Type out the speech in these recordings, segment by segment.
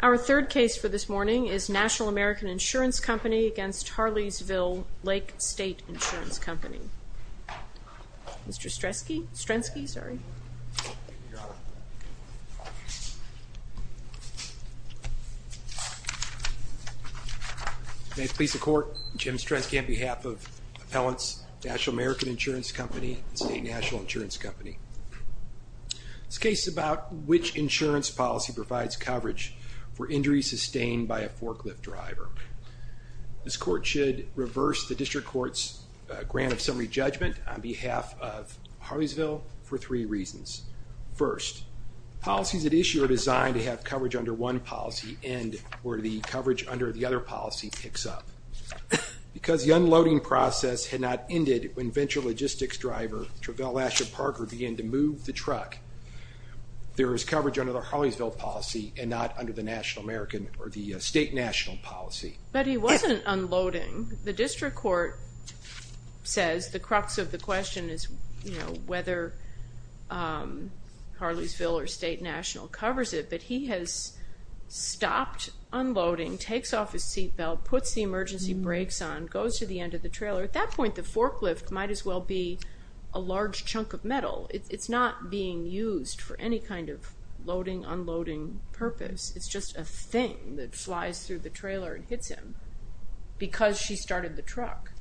Our third case for this morning is National American Insurance Company v. Harleysville Lake State Insurance Company. Mr. Strensky. May it please the Court, Jim Strensky on behalf of Appellants, National American Insurance Company and State National Insurance Company. This case is about which insurance policy provides coverage for injuries sustained by a forklift driver. This Court should reverse the District Court's grant of summary judgment on behalf of Harleysville for three reasons. First, policies at issue are designed to have coverage under one policy end where the coverage under the other policy picks up. Because the truck, there is coverage under the Harleysville policy and not under the National American or the State National policy. But he wasn't unloading. The District Court says the crux of the question is whether Harleysville or State National covers it, but he has stopped unloading, takes off his seatbelt, puts the emergency brakes on, goes to the end of the road. It's not being used for any kind of loading, unloading purpose. It's just a thing that flies through the trailer and hits him because she started the truck.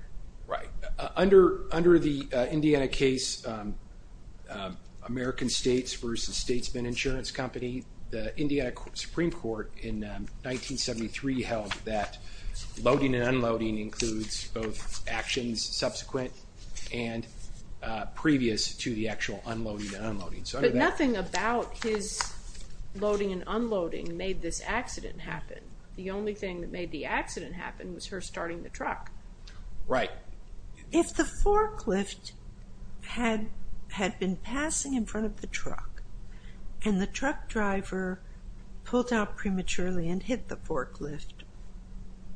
Right. Under the Indiana case, American States v. Statesman Insurance Company, the Indiana Supreme Court in 1973 held that loading and unloading includes both actions subsequent and previous to the actual unloading and unloading. But nothing about his loading and unloading made this accident happen. The only thing that made the accident happen was her starting the truck. Right. If the forklift had been passing in front of the truck and the truck driver pulled out prematurely and hit the forklift,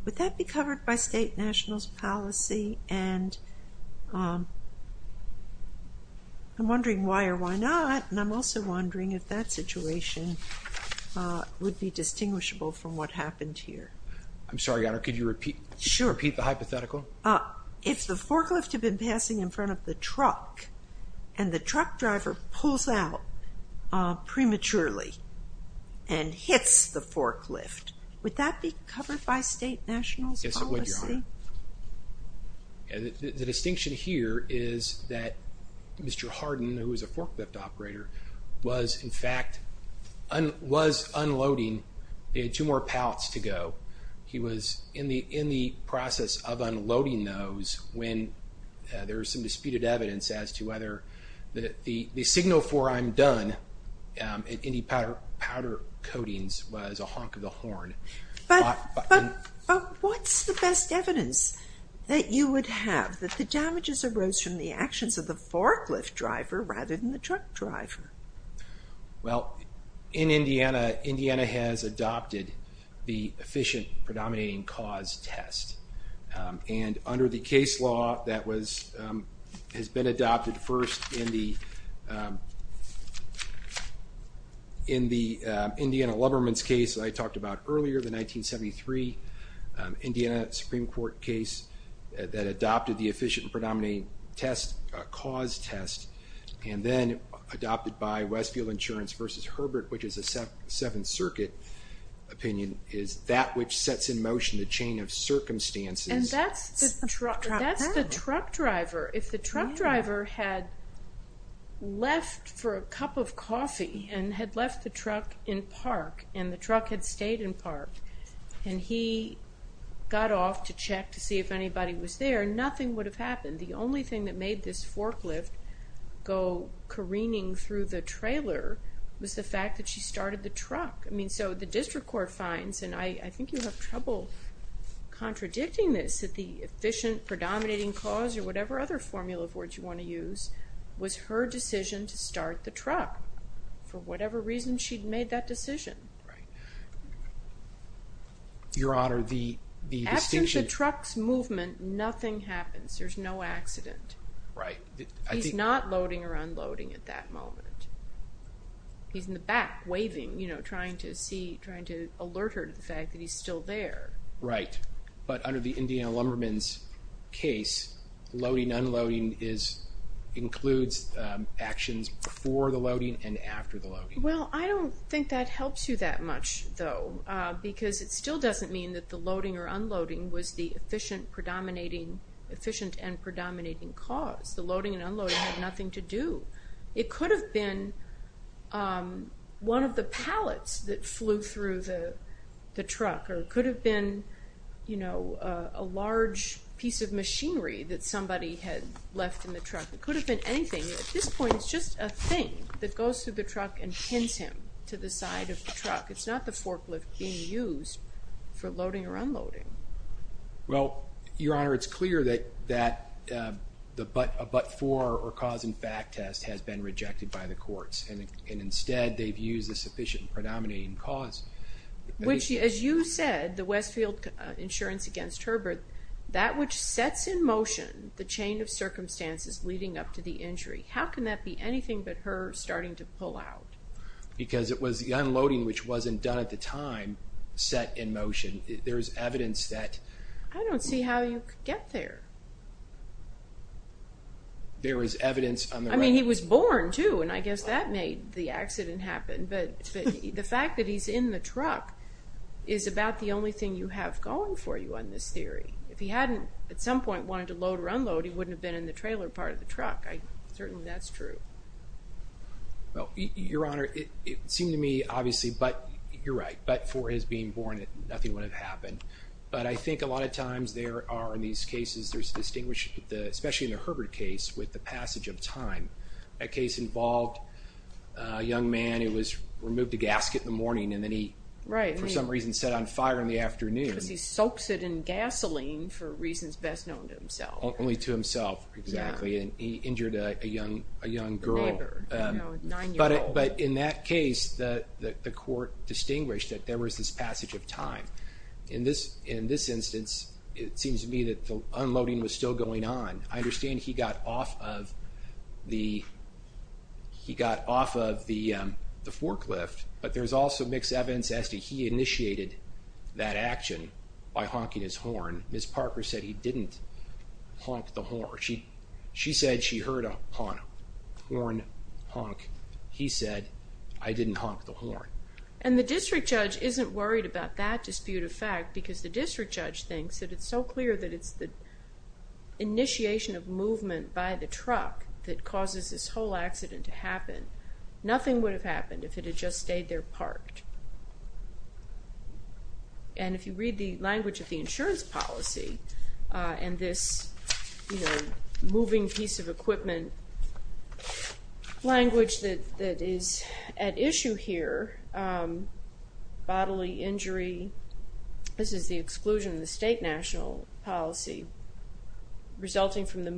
would that be covered by State National's policy and I'm wondering why or why not and I'm also wondering if that situation would be distinguishable from what happened here. I'm sorry, Your Honor, could you repeat the hypothetical? Sure. If the forklift had been passing in front of the truck and the truck driver pulls out prematurely and hits the forklift, would that be covered by State National's policy? Yes, it would, Your Honor. The distinction here is that Mr. Harden, who was a forklift operator, was in fact, was unloading. They had two more pallets to go. He was in the process of unloading those when there was some disputed evidence as to whether the signal for I'm done in any powder coatings was a honk of the horn. But what's the best evidence that you would have that the damages arose from the actions of the forklift driver rather than the truck driver? Well, in Indiana, Indiana has adopted the efficient predominating cause test and under the case law that has been adopted first in the Indiana Code of Conduct, there is a in the Indiana Lubberman's case that I talked about earlier, the 1973 Indiana Supreme Court case that adopted the efficient predominating cause test and then adopted by Westfield Insurance versus Herbert, which is a Seventh Circuit opinion, is that which sets in motion the chain of circumstances. And that's the truck driver. If the truck driver had left for a truck in park and the truck had stayed in park and he got off to check to see if anybody was there, nothing would have happened. The only thing that made this forklift go careening through the trailer was the fact that she started the truck. I mean, so the district court finds, and I think you'll have trouble contradicting this, that the efficient predominating cause or whatever other formula of words you want to use was her decision to start the truck. She'd made that decision. Your Honor, the distinction... Absent the truck's movement, nothing happens. There's no accident. He's not loading or unloading at that moment. He's in the back waving, you know, trying to alert her to the fact that he's still there. Right. But under the Indiana Lubberman's case, loading and unloading includes actions before the truck. I don't think that helps you that much, though, because it still doesn't mean that the loading or unloading was the efficient and predominating cause. The loading and unloading had nothing to do. It could have been one of the pallets that flew through the truck or it could have been, you know, a large piece of machinery that somebody had left in the truck. It could have been anything. At this point, it's just a thing that goes through the truck and pins him to the side of the truck. It's not the forklift being used for loading or unloading. Well, Your Honor, it's clear that the but-for or cause-in-fact test has been rejected by the courts and instead they've used the efficient predominating cause. Which, as you said, the Westfield insurance against Herbert, that which sets in motion the chain of circumstances leading up to the injury, how can that be anything but her starting to pull out? Because it was the unloading, which wasn't done at the time, set in motion. There's evidence that... I don't see how you could get there. There is evidence... I mean, he was born, too, and I guess that made the accident happen, but the fact that he's in the truck is about the only thing you have going for you on this theory. If he hadn't at some point wanted to load or unload, he wouldn't have been in the trailer part of the accident. That's true. Well, Your Honor, it seemed to me, obviously, but you're right, but for his being born, nothing would have happened. But I think a lot of times there are, in these cases, there's a distinguished... especially in the Herbert case, with the passage of time. That case involved a young man who was removed the gasket in the morning and then he, for some reason, set on fire in the afternoon. Because he soaks it in gasoline for reasons best known to himself. Only to himself, exactly. And he injured a young girl. A neighbor. A nine-year-old. But in that case, the court distinguished that there was this passage of time. In this instance, it seems to me that the unloading was still going on. I understand he got off of the forklift, but there's also mixed evidence as to he initiated that action by honking his horn. Ms. Parker said he didn't honk the horn. She said she heard a horn honk. He said, I didn't honk the horn. And the district judge isn't worried about that dispute of fact, because the district judge thinks that it's so clear that it's the initiation of movement by the truck that causes this whole accident to happen. Nothing would have happened if it had just stayed there parked. And if you read the language of the insurance policy, and this moving piece of equipment language that is at issue here, bodily injury, this is the exclusion of the state national policy, resulting from the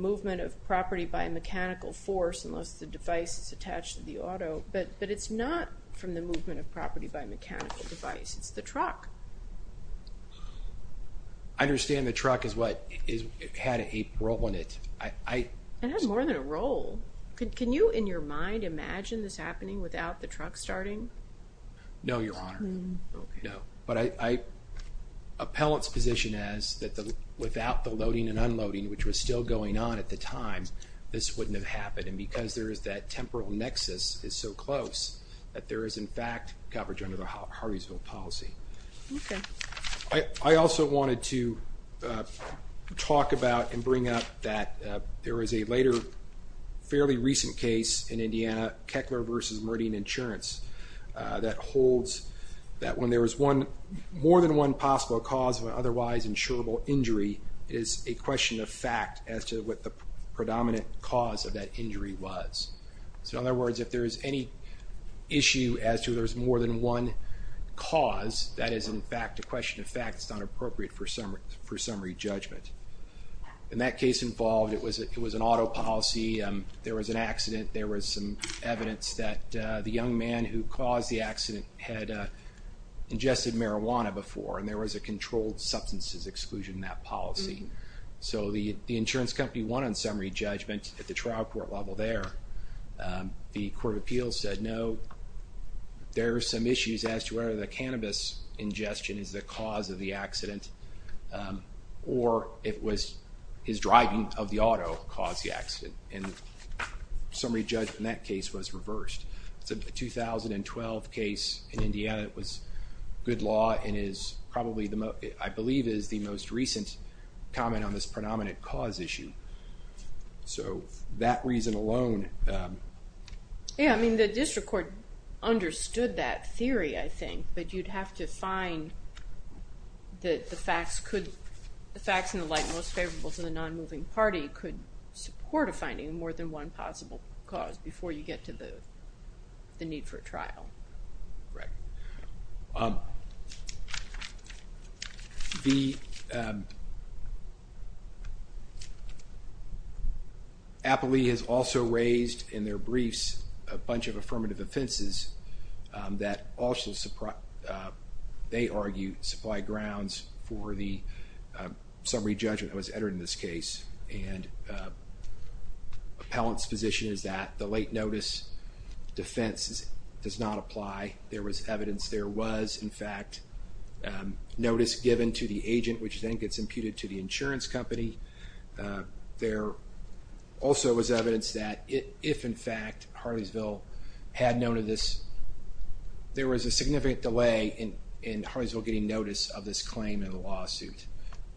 it's not from the movement of property by mechanical device. It's the truck. I understand the truck is what had a role in it. It has more than a role. Can you, in your mind, imagine this happening without the truck starting? No, Your Honor. No. But appellant's position is that without the loading and unloading, which was still going on at the time, this is so close that there is, in fact, coverage under the Hardeesville policy. I also wanted to talk about and bring up that there is a later, fairly recent case in Indiana, Keckler versus Meridian Insurance, that holds that when there is more than one possible cause of an otherwise insurable injury, it is a question of fact as to what the predominant cause of that injury was. So in other words, if there is any issue as to if there is more than one cause, that is, in fact, a question of fact. It's not appropriate for summary judgment. In that case involved, it was an auto policy. There was an accident. There was some evidence that the young man who caused the accident had ingested marijuana before, and there was a controlled substances exclusion in that policy. So the insurance company won summary judgment at the trial court level there. The Court of Appeals said no, there are some issues as to whether the cannabis ingestion is the cause of the accident, or it was his driving of the auto caused the accident. And summary judgment in that case was reversed. It's a 2012 case in Indiana. It was good law and is probably, I believe, is the most recent comment on this predominant cause issue. So that reason alone... Yeah, I mean, the district court understood that theory, I think, but you'd have to find that the facts could, the facts in the light most favorable to the non-moving party could support a finding of more than one possible cause before you get to the need for a trial. Right. The... Appley has also raised in their briefs a bunch of affirmative offenses that also, they argue, supply grounds for the summary judgment that was entered in this case. And the appellant's position is that the late notice defense does not apply. There was evidence there was, in fact, notice given to the agent, which then gets imputed to the insurance company. There also was evidence that if, in fact, Harleysville had known of this, there was a significant delay in Harleysville getting notice of this claim in the lawsuit.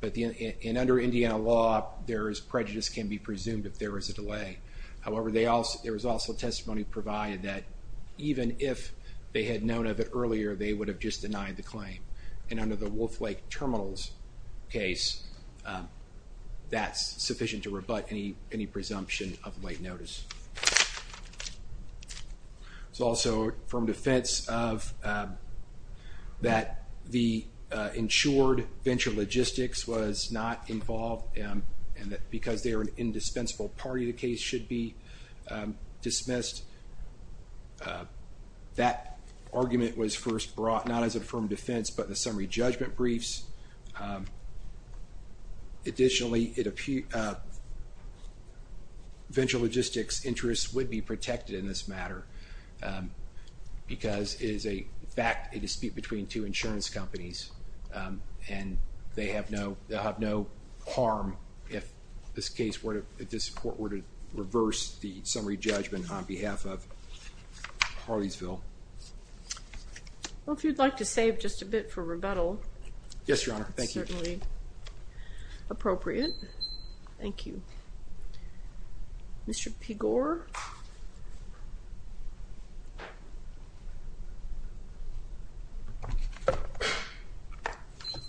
But under Indiana law, there is prejudice can be presumed if there is a delay. However, there was also testimony provided that even if they had known of it earlier, they would have just denied the claim. And under the Wolf Lake Terminals case, that's sufficient to rebut any presumption of late notice. It's also from defense of that the insured venture logistics was not involved, and that because they are an indispensable party, the case should be dismissed. That argument was first brought, not as an affirmative defense, but the summary judgment briefs. Additionally, venture logistics interests would be protected in this matter, because it is, in fact, a dispute between two insurance companies, and they'll have no harm if this court were to reverse the summary judgment on behalf of Harleysville. Well, if you'd like to save just a bit for rebuttal, it's certainly appropriate. Thank you.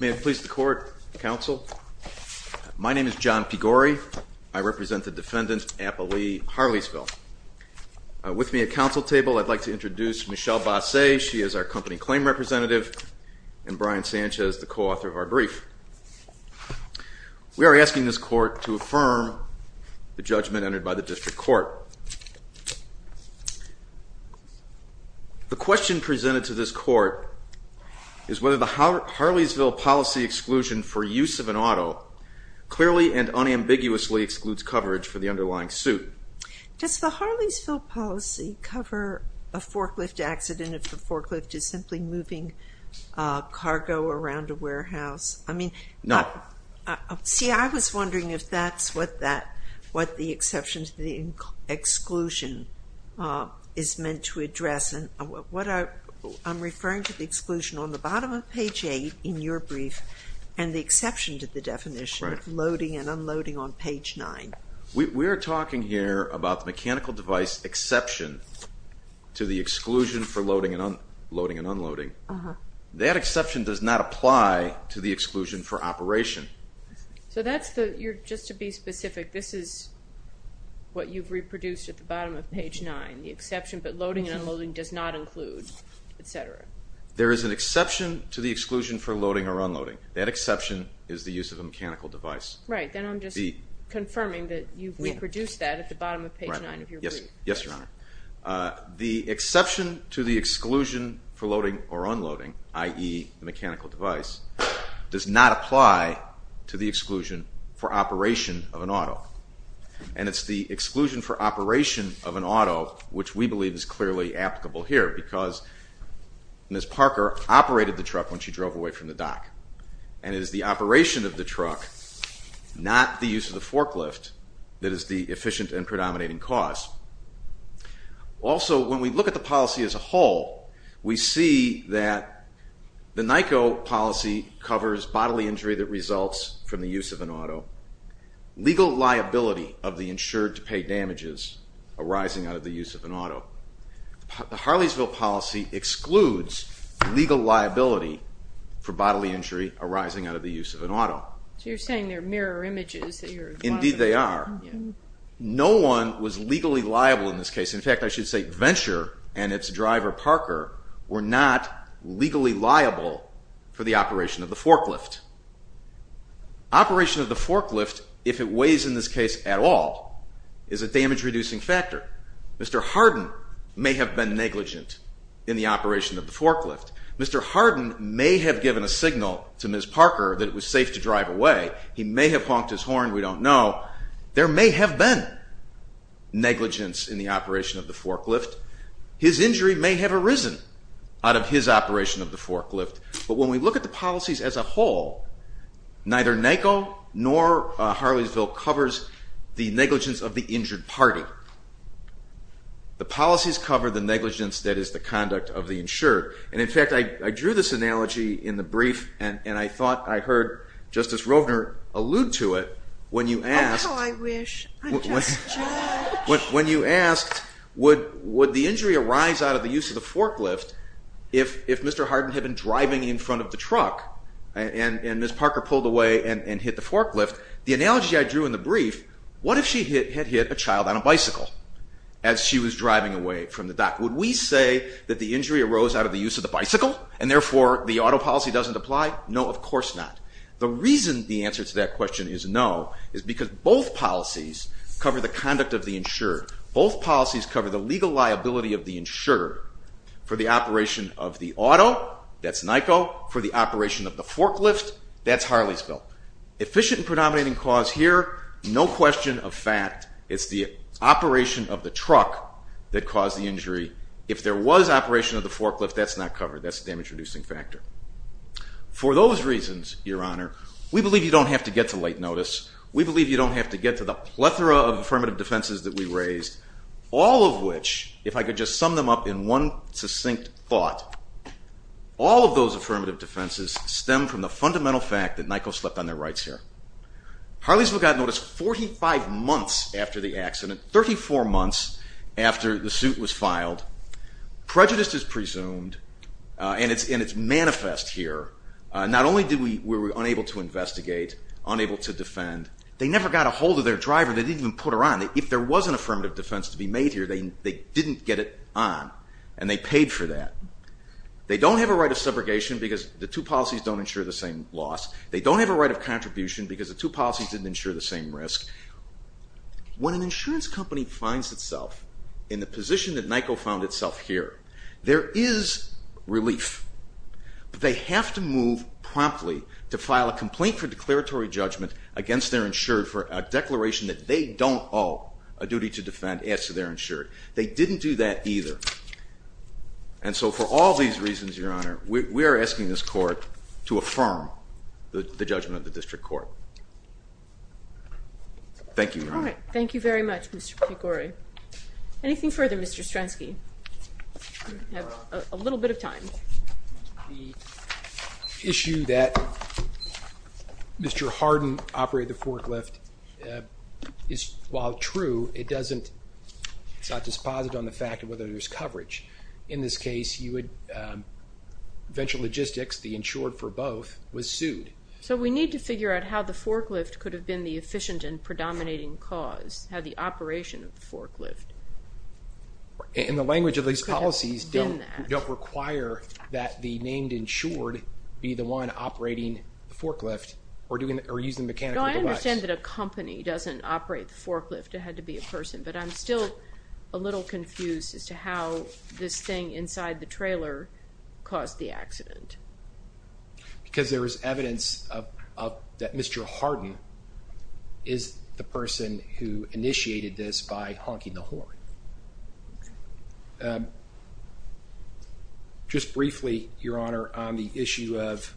May it please the court, counsel. My name is John Pigore. I represent the defendant, Appa Lee, Harleysville. With me at counsel table, I'd like to introduce Michelle Basset. She is our company claim representative, and Brian Sanchez, the co-author of our brief. We are asking this court to affirm the judgment entered by the district court. The question presented to this court is whether the Harleysville policy exclusion for use of an auto clearly and unambiguously excludes coverage for the underlying suit. Does the Harleysville policy cover a forklift accident if the forklift is simply moving cargo around a warehouse? No. See, I was wondering if that's what the exception to the exclusion is meant to address. What I'm referring to is the exclusion on the bottom of page 8 in your brief and the exception to the definition of loading and unloading on page 9. We're talking here about the mechanical device exception to the exclusion for loading and unloading. That exception does not apply to the exclusion for operation. So that's the, just to be specific, this is what you've reproduced at the bottom of page 9, the exception, but loading and unloading does not include, et cetera. There is an exception to the exclusion for loading or unloading. That exception is the use of a mechanical device. Right, then I'm just confirming that you've reproduced that at the bottom of page 9 of your brief. Yes, Your Honor. The exception to the exclusion for loading or unloading, i.e., the mechanical device, does not apply to the exclusion for operation of an auto. And it's the exclusion for operation of an auto which we believe is clearly applicable here because Ms. Parker operated the truck when she drove away from the dock. And it is the operation of the truck, not the use of the forklift, that is the efficient and predominating cause. Also, when we look at the policy as a whole, we see that the NICO policy covers bodily injury that results from the use of an auto. Legal liability of the insured to pay damages arising out of the use of an auto. The Harleysville policy excludes legal liability for bodily injury arising out of the use of an auto. So you're saying they're mirror images that you're... Indeed they are. No one was legally liable in this case. In fact, I should say Venture and its driver Parker were not legally liable for the operation of the forklift. Operation of the forklift, if it weighs in this case at all, is a damage-reducing factor. Mr. Harden may have been negligent in the operation of the forklift. Mr. Harden may have given a signal to Ms. Parker that it was safe to drive away. He may have honked his horn, we don't know. There may have been negligence in the operation of the forklift. His injury may have arisen out of his operation of the forklift. But when we look at the policies as a whole, neither NACO nor Harleysville covers the negligence of the injured party. The policies cover the negligence that is the conduct of the insured. And in fact, I drew this analogy in the brief and I thought I heard Justice Rovner allude to it when you asked... I'm not a lawyer, I'm just a judge. When you asked, would the injury arise out of the use of the forklift if Mr. Harden had been driving in front of the truck and Ms. Parker pulled away and hit the forklift? The analogy I drew in the brief, what if she had hit a child on a bicycle as she was driving away from the dock? Would we say that the injury arose out of the use of the bicycle and therefore the auto policy doesn't apply? No, of course not. The reason the answer to that question is no is because both policies cover the conduct of the insured. Both policies cover the legal liability of the insured. For the operation of the auto, that's NACO. For the operation of the forklift, that's Harleysville. Efficient and predominating cause here, no question of fact. It's the operation of the truck that caused the injury. If there was operation of the forklift, that's not covered. That's the damage reducing factor. For those reasons, Your Honor, we believe you don't have to get to late notice. We believe you don't have to get to the plethora of affirmative defenses that we raised, all of which, if I could just sum them up in one succinct thought, all of those affirmative defenses stem from the fundamental fact that NACO slept on their rights here. Harleysville got notice 45 months after the accident, 34 months after the suit was filed. Prejudice is presumed, and it's manifest here. Not only were we unable to investigate, unable to defend, they never got a hold of their driver. They didn't even put her on. If there was an affirmative defense to be made here, they didn't get it on, and they paid for that. They don't have a right of subrogation because the two policies don't insure the same loss. They don't have a right of contribution because the two policies didn't insure the same risk. When an insurance company finds itself in the position that NACO found itself here, there is relief, but they have to move promptly to file a complaint for declaratory judgment against their insured for a declaration that they don't owe a duty to defend as to their insured. They didn't do that either. And so for all these reasons, Your Honor, we are asking this Court to affirm the judgment of the District Court. Thank you, Your Honor. Thank you very much, Mr. Pecore. Anything further, Mr. Stransky? You have a little bit of time. The issue that Mr. Hardin operated the forklift is, while true, it doesn't, it's not dispositive on the fact of whether there's coverage. In this case, you would, Venture Logistics, the insured for both, was sued. So we need to figure out how the forklift could have been the efficient and predominating cause, how the operation of the forklift could have been that. In the language of these policies, don't require that the named insured be the one operating the forklift or using the mechanical device. No, I understand that a company doesn't operate the forklift. It had to be a person. But I'm still a little confused as to how this thing inside the trailer caused the accident. Because there is evidence of, that Mr. Hardin is the person who initiated this by honking the horn. Just briefly, Your Honor, on the issue of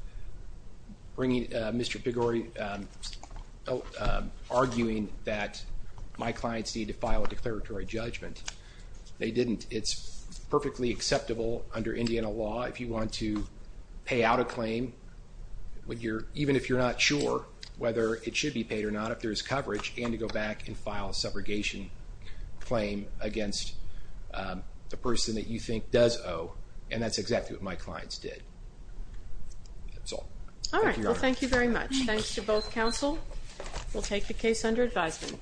bringing, Mr. Pecore, arguing that my clients need to file a declaratory judgment. They didn't. It's perfectly acceptable under Indiana law if you want to pay out a claim, even if you're not sure whether it should be paid or not, if there's coverage, and to go back and file a subrogation claim against the person that you think does owe. And that's exactly what my clients did. That's all. Thank you, Your Honor. All right. Well, thank you very much. Thanks to both counsel. We'll take the case under advisement.